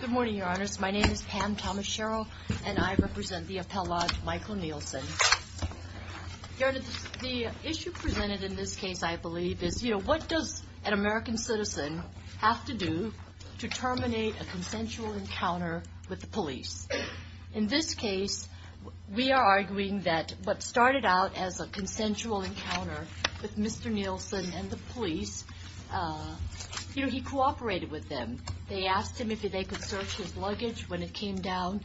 Good morning, your honors. My name is Pam Thomas-Sherrill and I represent the appellate Michael Nielsen. Your honor, the issue presented in this case, I believe, is, you know, what does an American citizen have to do to terminate a consensual encounter with the police? In this case, we are arguing that what started out as a consensual encounter with Mr. Nielsen and the police, you know, he cooperated with them. They asked him if they could search his luggage when it came down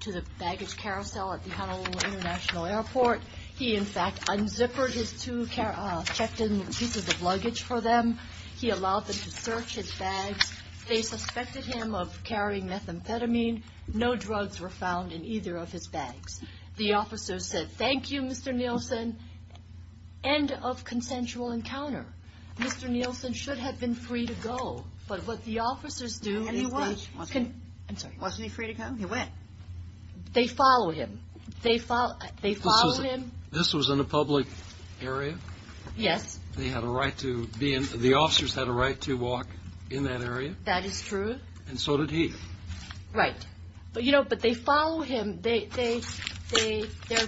to the baggage carousel at the Honolulu International Airport. He, in fact, unzippered his two checked-in pieces of luggage for them. He allowed them to search his bags. They suspected him of carrying methamphetamine. No drugs were found in either of his bags. The officer said, thank you, Mr. Nielsen. End of consensual encounter. Mr. Nielsen should have been free to go, but what the officers do... And he was. Wasn't he free to go? He went. They follow him. They follow him. This was in a public area? Yes. They had a right to be in, the officers had a right to walk in that area? That is true. And so did he. Right. But, you know, but they follow him. They,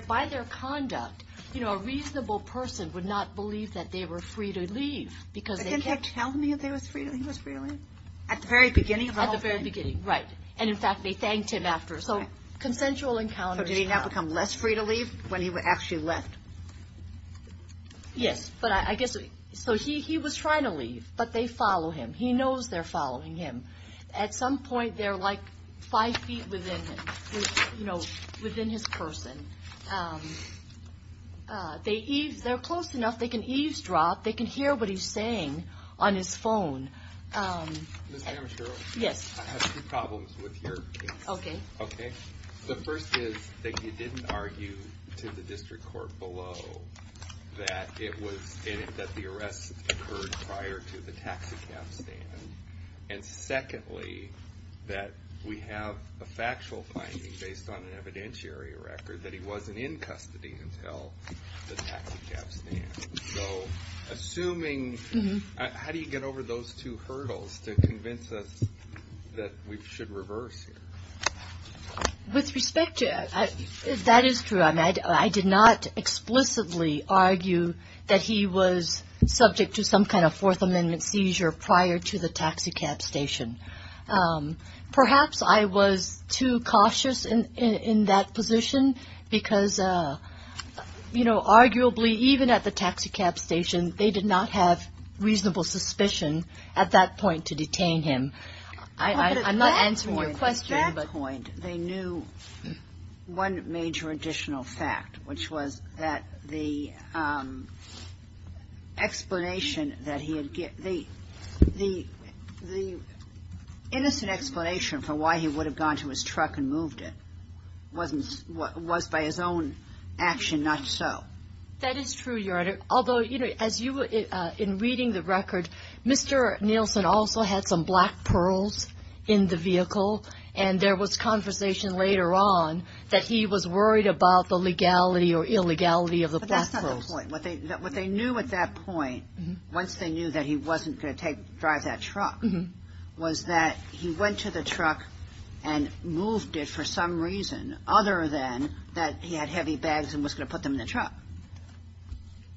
by their conduct, you know, a reasonable person would not believe that they were free to leave because... But didn't he tell me that he was free to leave? At the very beginning? At the very beginning, right. And, in fact, they thanked him after. So consensual encounters... So did he now become less free to leave when he actually left? Yes, but I guess, so he was trying to leave, but they follow him. He knows they're following him. At some point, they're like five feet within, you know, they're close enough, they can eavesdrop, they can hear what he's saying on his phone. Ms. Amashiro? Yes. I have two problems with your case. Okay. Okay. The first is that you didn't argue to the district court below that it was, that the arrest occurred prior to the taxicab stand, and secondly, that we have a factual finding based on an investigation of the custody until the taxicab stand. So, assuming, how do you get over those two hurdles to convince us that we should reverse here? With respect to it, that is true. I did not explicitly argue that he was subject to some kind of Fourth Amendment seizure prior to the taxicab station. Perhaps I was too cautious in that position, because you know, arguably, even at the taxicab station, they did not have reasonable suspicion at that point to detain him. I'm not answering your question. At that point, they knew one major additional fact, which was that the explanation that he had given, the innocent explanation for why he would have gone to his truck and moved it was by his own action, not so. That is true, Your Honor. Although, as you were in reading the record, Mr. Nielsen also had some black pearls in the vehicle, and there was conversation later on that he was worried about the legality or illegality of the black pearls. But that's not the point. What they knew at that point was that he was not subject to the Seizure Act. At that point, once they knew that he wasn't going to drive that truck, was that he went to the truck and moved it for some reason, other than that he had heavy bags and was going to put them in the truck.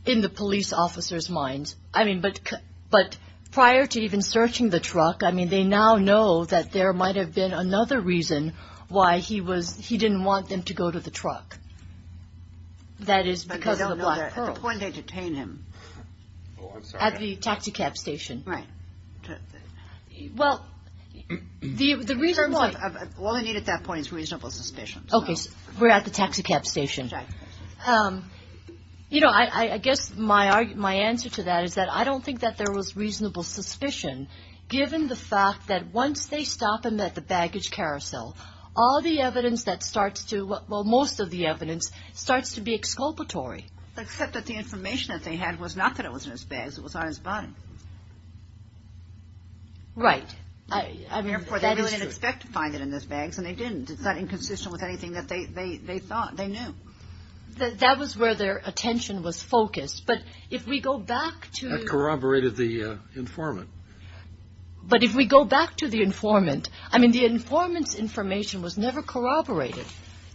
In the police officer's minds. I mean, but prior to even searching the truck, I mean, they now know that there might have been another reason why he was he didn't want them to go to the truck. That is because of the black pearl. But they don't know that at the point they detained him. At the taxi cab station. Right. Well, the reason why. All they need at that point is reasonable suspicion. Taxi cab station. You know, I guess my answer to that is that I don't think that there was reasonable suspicion, given the fact that once they stop him at the baggage carousel, all the evidence that starts to, well, most of the evidence starts to be exculpatory. Except that the information that they had was not that it was in his bags, it was on his body. Right. Therefore, they didn't expect to find it in his bags and they didn't. It's not inconsistent with anything that they thought. They knew. That was where their attention was focused. But if we go back to. That corroborated the informant. But if we go back to the informant, I mean, the informant's information was never corroborated.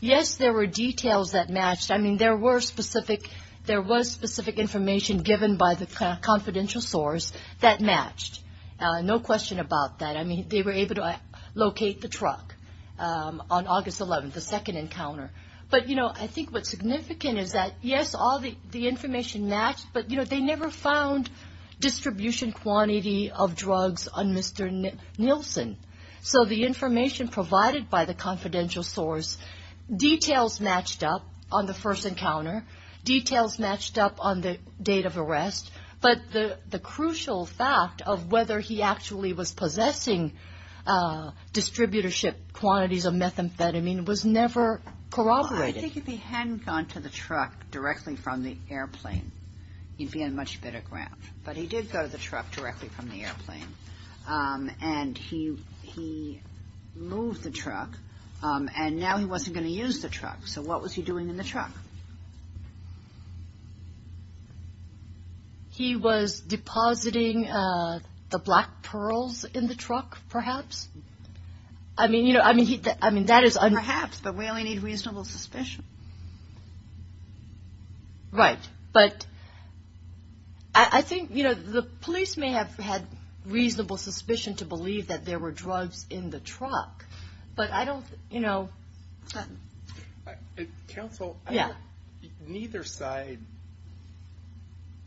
Yes, there were details that matched. I mean, there were specific. There was specific information given by the confidential source that matched. No question about that. I mean, they were able to locate the truck on August 11th, the second encounter. But, you know, I think what's significant is that, yes, all the information matched. But, you know, they never found distribution quantity of drugs on Mr. Nielsen. So the information provided by the confidential source. Details matched up on the first encounter. Details matched up on the date of arrest. But the crucial fact of whether he actually was possessing distributorship quantities of methamphetamine was never corroborated. I think if he hadn't gone to the truck directly from the airplane, he'd be on much better ground. But he did go to the truck directly from the airplane. And he moved the truck. And now he wasn't going to use the truck. So what was he doing in the truck? He was depositing the black pearls in the truck, perhaps. I mean, you know, that is... Perhaps, but we only need reasonable suspicion. Right. But I think, you know, the police may have had reasonable suspicion to believe that there were drugs in the truck. But I don't, you know... Counsel... Yeah. Neither side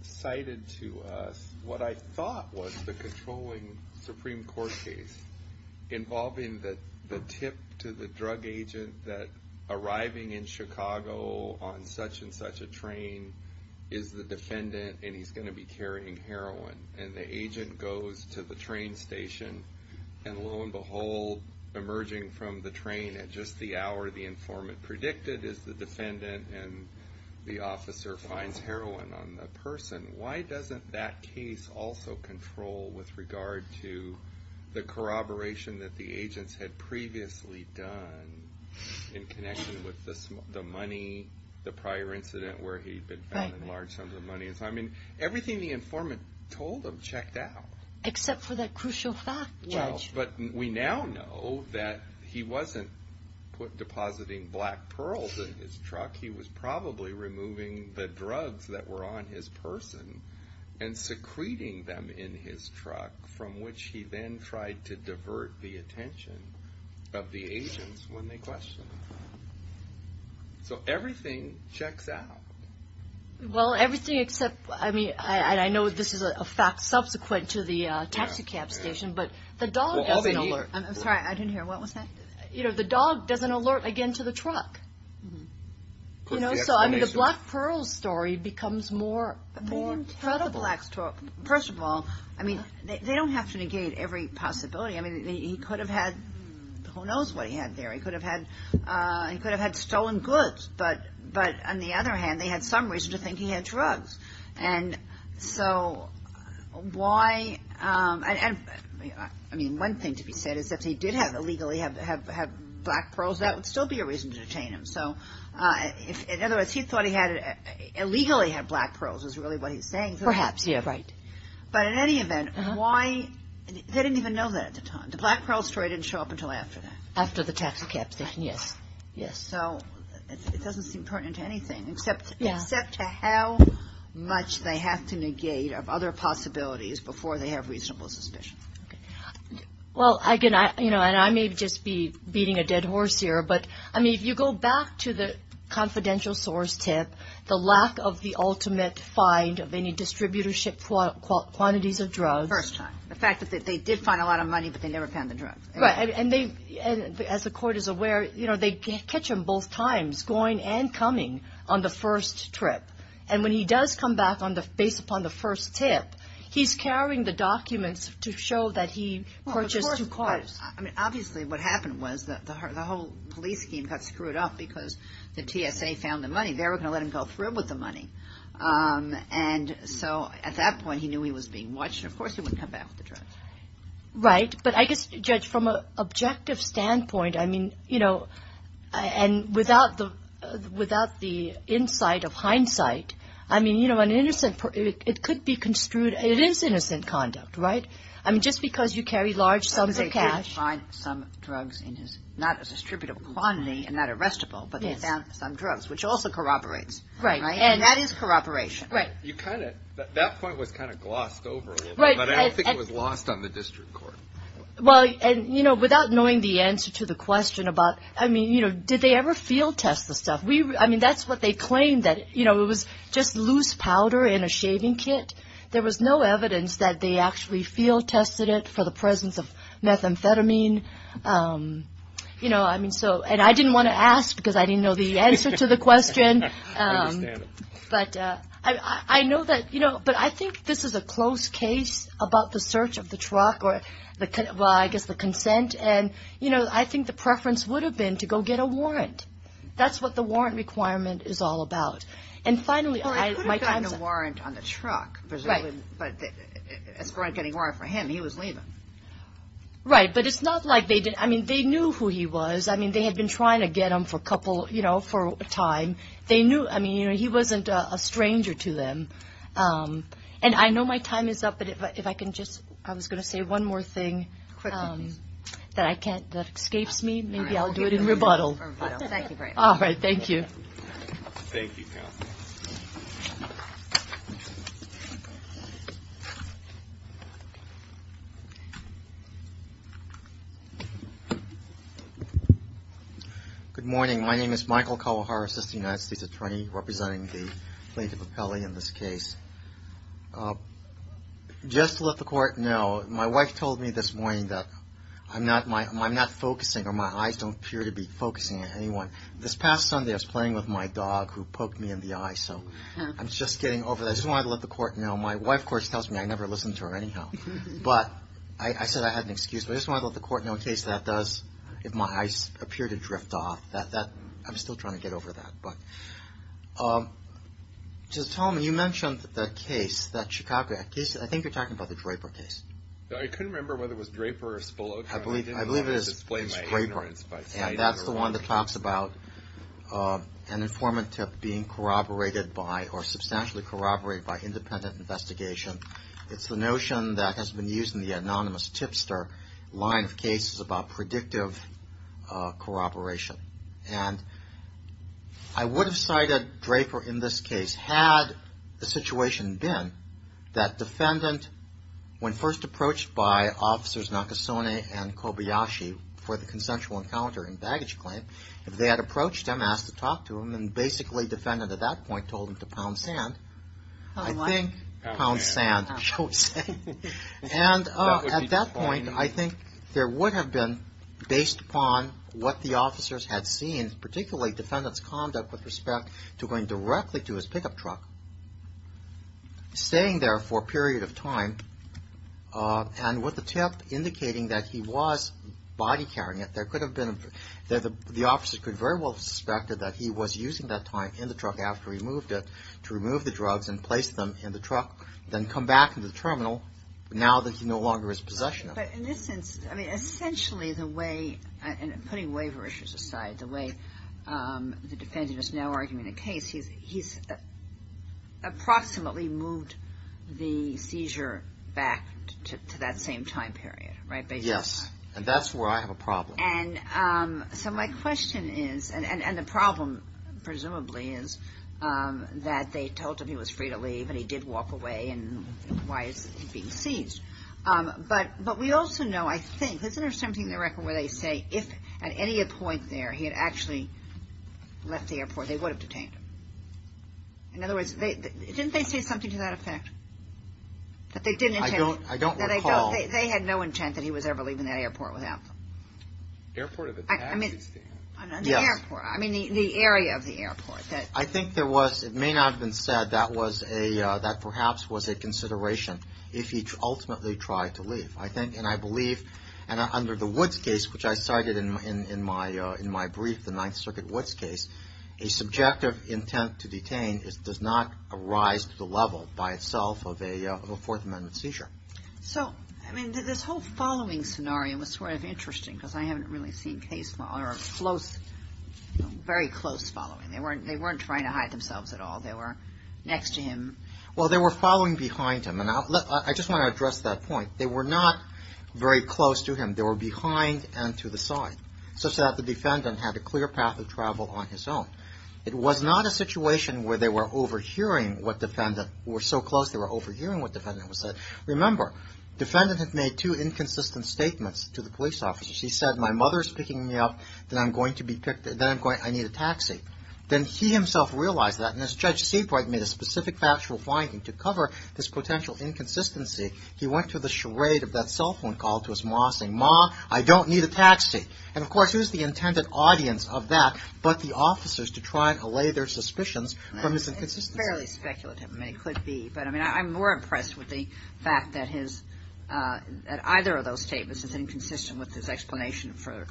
cited to us what I thought was the controlling Supreme Court case. Involving the tip to the drug agent that arriving in Chicago on such and such a train is the defendant and he's going to be carrying heroin. And the agent goes to the train station. And lo and behold, emerging from the train at just the hour the informant predicted is the defendant. And the officer finds heroin on the person. Why doesn't that case also control with regard to the corroboration that the agents had previously done? In connection with the money, the prior incident where he'd been found in large sums of money. I mean, everything the informant told him checked out. Except for that crucial fact, Judge. Well, but we now know that he wasn't depositing black pearls in his truck. He was probably removing the drugs that were on his person and secreting them in his truck. From which he then tried to divert the attention of the agents when they questioned him. So everything checks out. Well, everything except, I mean, I know this is a fact subsequent to the taxicab station. But the dog doesn't alert. I'm sorry, I didn't hear, what was that? You know, the dog doesn't alert again to the truck. Could be explanation. So, I mean, the black pearls story becomes more credible. First of all, I mean, they don't have to negate every possibility. I mean, he could have had who knows what he had there. He could have had stolen goods. But on the other hand, they had some reason to think he had drugs. And so why, I mean, one thing to be said is if he did illegally have black pearls, that would still be a reason to detain him. So in other words, he thought he had illegally had black pearls is really what he's saying. Perhaps, yeah, right. But in any event, why, they didn't even know that at the time. The black pearl story didn't show up until after that. After the taxicab station, yes. So it doesn't seem pertinent to anything except to how much they have to negate of other possibilities before they have reasonable suspicion. Well, I can, you know, and I may just be beating a dead horse here, but, I mean, if you go back to the confidential source tip, the lack of the ultimate find of any distributorship quantities of drugs. First time. The fact that they did find a lot of money, but they never found the drugs. And as the court is aware, you know, they catch him both times, going and coming on the first trip. And when he does come back on the, based upon the first tip, he's carrying the documents to show that he purchased two cars. I mean, obviously, what happened was that the whole police team got screwed up because the TSA found the money. They were going to let him go through with the money. And so at that point, he knew he was being watched. Of course, he wouldn't come back with the drugs. Right. But I guess, Judge, from an objective standpoint, I mean, you know, and without the insight of hindsight, I mean, you know, an innocent, it could be construed, it is innocent conduct, right? I mean, just because you carry large sums of cash. They did find some drugs in his, not a distributable quantity, and not arrestable, but they found some drugs, which also corroborates. Right. And that is corroboration. Right. You kind of, that point was kind of glossed over a little bit. But I don't think it was lost on the district court. Well, and, you know, without knowing the answer to the question about, I mean, you know, did they ever field test the stuff? I mean, that's what they claimed, that, you know, it was just loose powder in a shaving kit. There was no evidence that they actually field tested it for the presence of methamphetamine. You know, I mean, so, and I didn't want to ask because I didn't know the answer to the question. I understand. But I know that, you know, but I think this is a close case about the search of the truck or the, well, I guess the consent. And, you know, I think the preference would have been to go get a warrant. That's what the warrant requirement is all about. And finally, my time's up. Well, they could have gotten a warrant on the truck. Right. But as far as getting a warrant for him, he was leaving. Right. But it's not like they did, I mean, they knew who he was. I mean, they had been trying to get him for a couple, you know, for a time. They knew, I mean, you know, he wasn't a stranger to them. And I know my time is up. But if I can just, I was going to say one more thing. Quickly, please. That I can't, that escapes me. Maybe I'll do it in rebuttal. Thank you very much. All right. Thank you. Thank you, counsel. Good morning. My name is Michael Kawahara, assistant United States attorney, representing the plaintiff of Pele in this case. Just to let the court know, my wife told me this morning that I'm not, I'm not focusing or my eyes don't appear to be focusing on anyone. This past Sunday, I was playing with my dog who poked me in the eye. So I'm just getting over that. I just wanted to let the court know. My wife, of course, tells me I never listen to her anyhow. But I said I had an excuse. I just wanted to let the court know, in case that does, if my eyes appear to drift off, that, that, I'm still trying to get over that. But just tell me, you mentioned the case, that Chicago case, I think you're talking about the Draper case. I couldn't remember whether it was Draper or Spolota. I believe it is Draper. I didn't want to display my ignorance. And that's the one that talks about an informant tip being corroborated by or substantially corroborated by independent investigation. It's the notion that has been used in the anonymous tipster line of cases about predictive corroboration. And I would have cited Draper in this case had the situation been that defendant, when first approached by officers Nakasone and Kobayashi for the consensual encounter and baggage claim, if they had approached him, asked to talk to him, and basically defendant at that point told him to pound sand. I think pound sand. And at that point, I think there would have been, based upon what the officers had seen, particularly defendant's conduct with respect to going directly to his pickup truck, staying there for a period of time, and with the tip indicating that he was body carrying it, there could have been, the officers could very well have suspected that he was using that time in the truck after he moved it to remove the drugs and place them in the truck, then come back to the terminal now that he no longer is possession of it. But in this sense, I mean, essentially the way, and putting waiver issues aside, the way the defendant is now arguing the case, he's approximately moved the seizure back to that same time period, right? Yes. And that's where I have a problem. So my question is, and the problem, presumably, is that they told him he was free to leave and he did walk away, and why is he being seized? But we also know, I think, isn't there something in the record where they say if at any point there he had actually left the airport, they would have detained him? In other words, didn't they say something to that effect? I don't recall. They had no intent that he was ever leaving that airport without them. Airport of a taxi stand? Yes. I mean, the area of the airport. I think there was, it may not have been said, that perhaps was a consideration if he ultimately tried to leave. And I believe, under the Woods case, which I cited in my brief, the Ninth Circuit Woods case, a subjective intent to detain does not arise to the level by itself of a Fourth Amendment seizure. So, I mean, this whole following scenario was sort of interesting, because I haven't really seen case, or close, very close following. They weren't trying to hide themselves at all. They were next to him. Well, they were following behind him, and I just want to address that point. They were not very close to him. They were behind and to the side, such that the defendant had a clear path of travel on his own. It was not a situation where they were overhearing what defendant, were so close they were overhearing what defendant was saying. Remember, defendant had made two inconsistent statements to the police officers. He said, my mother is picking me up, then I'm going to be picked, then I'm going, I need a taxi. Then he himself realized that, and as Judge Seabright made a specific factual finding to cover this potential inconsistency, he went to the charade of that cell phone call to his ma, saying, ma, I don't need a taxi. And, of course, it was the intended audience of that, but the officers to try and allay their suspicions from his inconsistency. It's fairly speculative. I mean, it could be. But, I mean, I'm more impressed with the fact that his, that either of those statements is inconsistent with his explanation for.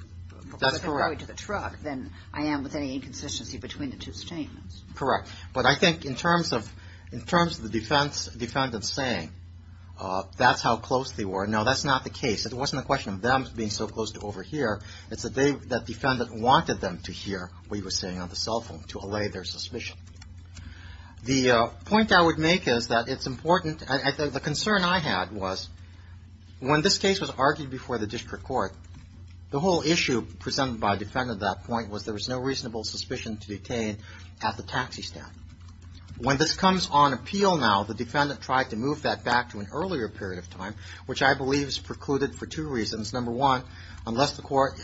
That's correct. Going to the truck than I am with any inconsistency between the two statements. Correct. But I think in terms of, in terms of the defense, defendant saying, that's how close they were. No, that's not the case. It wasn't a question of them being so close to overhear. It's that they, that defendant wanted them to hear what he was saying on the cell phone to allay their suspicion. The point I would make is that it's important, and the concern I had was, when this case was argued before the district court, the whole issue presented by a defendant at that point was there was no reasonable suspicion to detain at the taxi stand. When this comes on appeal now, the defendant tried to move that back to an earlier period of time, which I believe is precluded for two reasons. Number one, unless the court,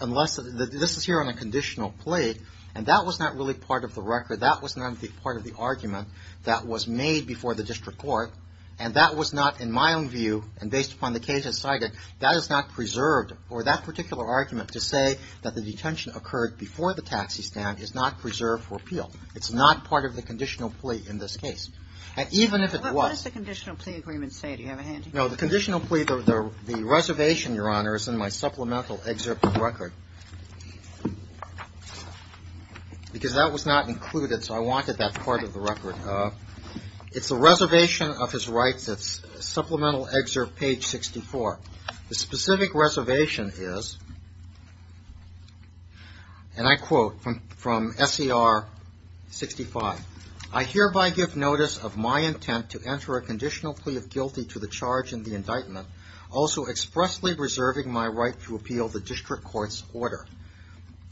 unless, this is here on a conditional plate, and that was not really part of the record, that was not part of the argument that was made before the district court, and that was not, in my own view, and based upon the case I cited, that is not preserved, or that particular argument to say that the detention occurred before the taxi stand is not preserved for appeal. It's not part of the conditional plea in this case. And even if it was. What does the conditional plea agreement say? Do you have a handy? No, the conditional plea, the reservation, Your Honor, is in my supplemental excerpt of the record. Because that was not included, so I wanted that part of the record. It's a reservation of his rights, supplemental excerpt, page 64. The specific reservation is, and I quote from SCR 65. I hereby give notice of my intent to enter a conditional plea of guilty to the charge in the indictment, also expressly reserving my right to appeal the district court's order.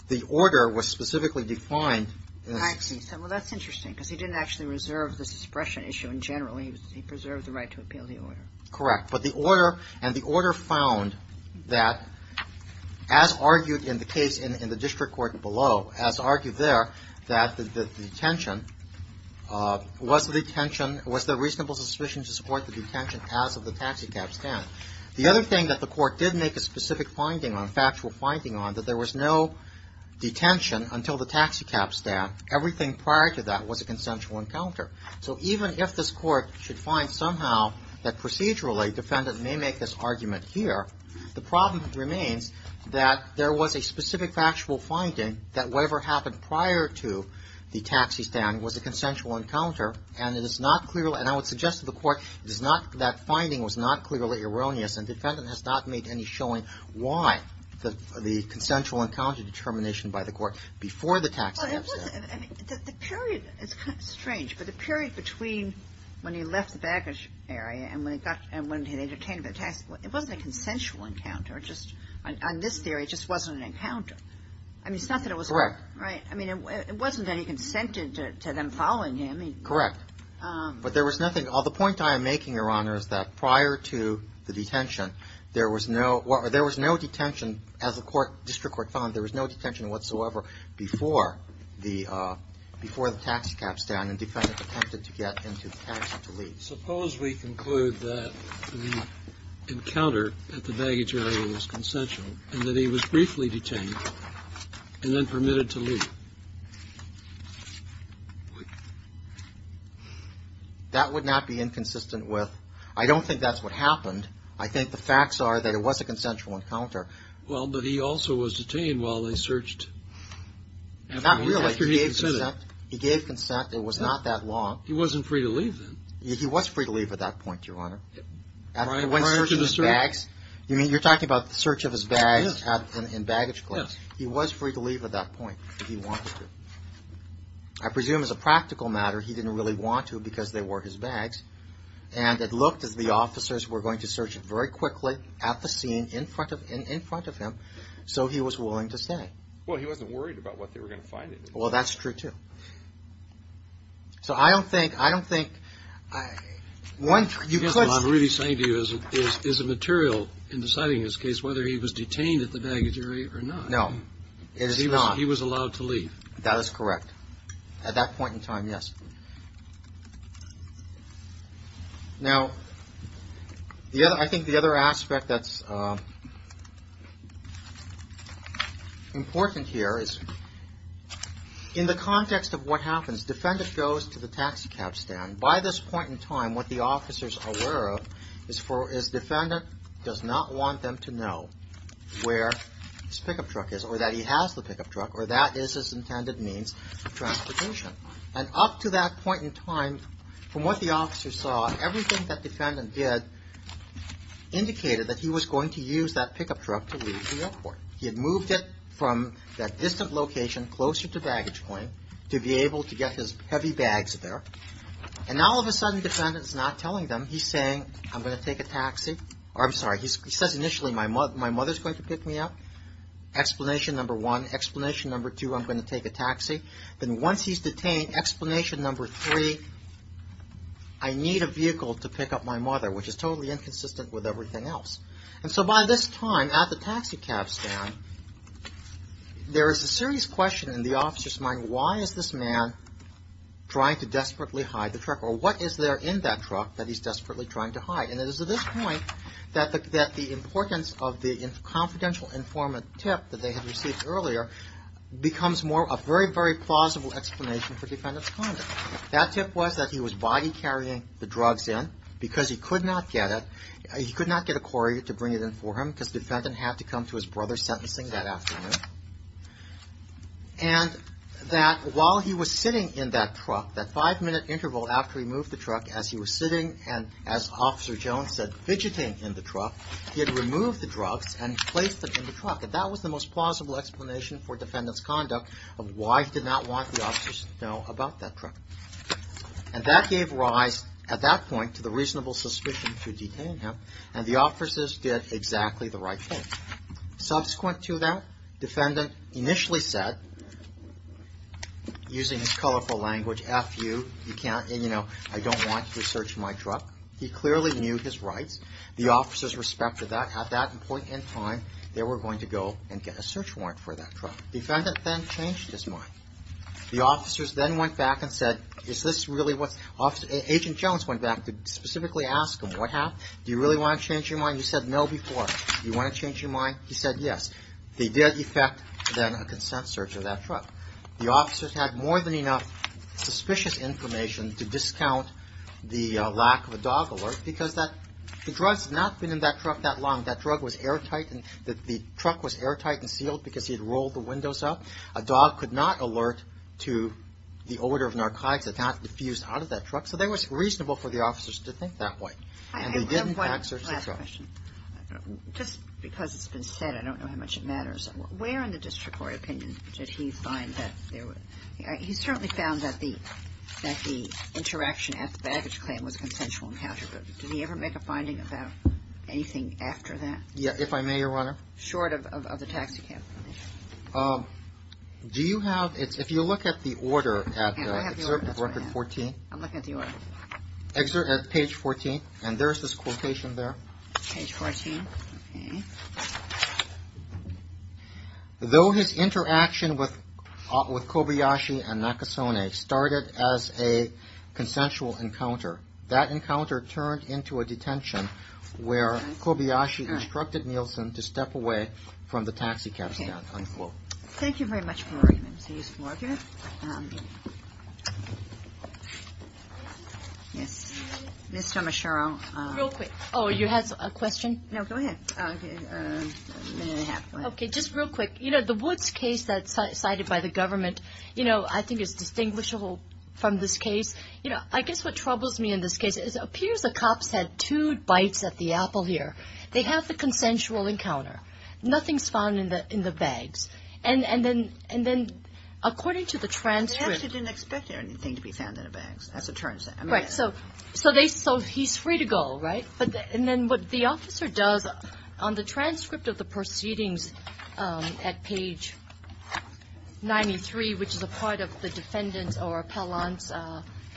The order was specifically defined. I see. Well, that's interesting, because he didn't actually reserve the suppression issue in general. He preserved the right to appeal the order. Correct. But the order, and the order found that, as argued in the case in the district court below, as argued there, that the detention, was the detention, was there reasonable suspicion to support the detention as of the taxicab stand. The other thing that the court did make a specific finding on, factual finding on, that there was no detention until the taxicab stand. Everything prior to that was a consensual encounter. So even if this court should find somehow that procedurally, defendant may make this argument here, the problem remains that there was a specific factual finding that whatever happened prior to the taxi stand was a consensual encounter, and it is not clear, and I would suggest to the court, it is not, that finding was not clearly erroneous, and defendant has not made any showing why the consensual encounter determination by the court before the taxicab stand. Well, it was, I mean, the period, it's kind of strange, but the period between when he left the baggage area and when he got, and when he had entertained the tax, it wasn't a consensual encounter. It just, on this theory, it just wasn't an encounter. I mean, it's not that it was. Correct. Right? I mean, it wasn't that he consented to them following him. Correct. But there was nothing. The point I am making, Your Honor, is that prior to the detention, there was no, there was no detention, as the court, district court found, there was no detention whatsoever before the, before the taxicab stand and defendant attempted to get into the taxi to leave. Suppose we conclude that the encounter at the baggage area was consensual and that he was briefly detained and then permitted to leave. That would not be inconsistent with, I don't think that's what happened. I think the facts are that it was a consensual encounter. Well, but he also was detained while they searched. He gave consent. He gave consent. It was not that long. He wasn't free to leave then. He was free to leave at that point, Your Honor. Prior to the search? You mean, you're talking about the search of his bags in baggage claim. Yes. He was free to leave at that point if he wanted to. I presume as a practical matter, he didn't really want to because they were his bags. And it looked as if the officers were going to search it very quickly at the scene in front of him so he was willing to stay. Well, he wasn't worried about what they were going to find in it. Well, that's true, too. So I don't think, I don't think, one, you could. I guess what I'm really saying to you is, is the material in deciding this case, whether he was detained at the baggage area or not. No. It is not. He was allowed to leave. That is correct. At that point in time, yes. Now, I think the other aspect that's important here is in the context of what happens, defendant goes to the taxi cab stand. By this point in time, what the officers are aware of is defendant does not want them to know where his pickup truck is or that he has the pickup truck or that is his intended means of transportation. And up to that point in time, from what the officers saw, everything that defendant did indicated that he was going to use that pickup truck to leave the airport. He had moved it from that distant location closer to baggage point to be able to get his heavy bags there. And now, all of a sudden, defendant is not telling them. He's saying, I'm going to take a taxi. I'm sorry. He says initially, my mother is going to pick me up. Explanation number one. Explanation number two, I'm going to take a taxi. Then once he's detained, explanation number three, I need a vehicle to pick up my mother, which is totally inconsistent with everything else. And so by this time at the taxi cab stand, there is a serious question in the officer's mind, why is this man trying to desperately hide the truck or what is there in that truck that he's desperately trying to hide? And it is at this point that the importance of the confidential informant tip that they had received earlier becomes a very, very plausible explanation for defendant's conduct. That tip was that he was body carrying the drugs in because he could not get it. He could not get a courier to bring it in for him because the defendant had to come to his brother's sentencing that afternoon. And that while he was sitting in that truck, that five-minute interval after he moved the truck, as he was sitting and as Officer Jones said, fidgeting in the truck, he had removed the drugs and placed them in the truck. And that was the most plausible explanation for defendant's conduct of why he did not want the officers to know about that truck. And that gave rise at that point to the reasonable suspicion to detain him and the officers did exactly the right thing. Subsequent to that, defendant initially said, using his colorful language, you know, I don't want you to search my truck. He clearly knew his rights. The officers respected that. At that point in time, they were going to go and get a search warrant for that truck. Defendant then changed his mind. The officers then went back and said, is this really what, Agent Jones went back to specifically ask him, what happened? Do you really want to change your mind? He said no before. Do you want to change your mind? He said yes. They did effect then a consent search of that truck. The officers had more than enough suspicious information to discount the lack of a dog alert because the drugs had not been in that truck that long. That drug was airtight and the truck was airtight and sealed because he had rolled the windows up. A dog could not alert to the order of narcotics that had not diffused out of that truck. So it was reasonable for the officers to think that way. And they didn't back search the truck. Last question. Just because it's been said, I don't know how much it matters. Where in the district court opinion did he find that there were He certainly found that the interaction at the baggage claim was a consensual encounter. But did he ever make a finding about anything after that? Yeah. If I may, Your Honor. Short of the taxicab. Do you have If you look at the order at Excerpt of Record 14. I'm looking at the order. Excerpt at page 14. And there is this quotation there. Page 14. Okay. Though his interaction with Kobayashi and Nakasone started as a consensual encounter, that encounter turned into a detention where Kobayashi instructed Nielsen to step away from the taxicab stand. Okay. Thank you very much for your argument. It was a useful argument. Yes. Ms. Tomashiro. Real quick. Oh, you had a question? No. Go ahead. A minute and a half. Okay. Just real quick. You know, the Woods case that's cited by the government, you know, I think is distinguishable from this case. You know, I guess what troubles me in this case is it appears the cops had two bites at the apple here. They have the consensual encounter. Nothing's found in the bags. And then according to the transcript. They actually didn't expect anything to be found in the bags. That's what it turns out. Right. So he's free to go, right? And then what the officer does on the transcript of the proceedings at page 93, which is a part of the defendant's or appellant's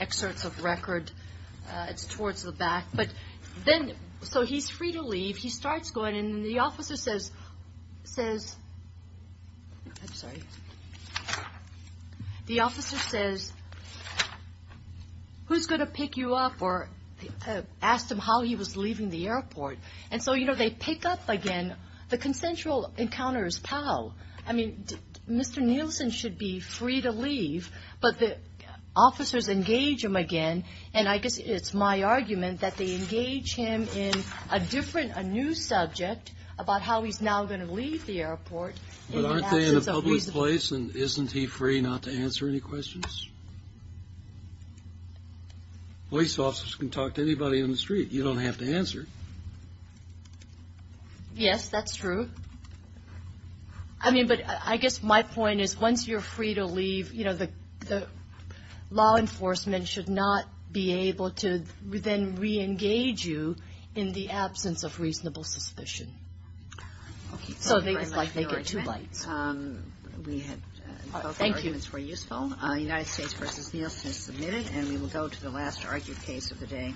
excerpts of record, it's towards the back. So he's free to leave. He starts going. And the officer says, I'm sorry. The officer says, who's going to pick you up or ask him how he was leaving the airport? And so, you know, they pick up again. The consensual encounter is pal. I mean, Mr. Nielsen should be free to leave. But the officers engage him again. And I guess it's my argument that they engage him in a different, a new subject about how he's now going to leave the airport. But aren't they in a public place and isn't he free not to answer any questions? Police officers can talk to anybody on the street. You don't have to answer. Yes, that's true. I mean, but I guess my point is once you're free to leave, you know, the law enforcement should not be able to then re-engage you in the absence of reasonable suspicion. So it's like they get two lights. Thank you. United States v. Nielsen is submitted. And we will go to the last argued case of the day.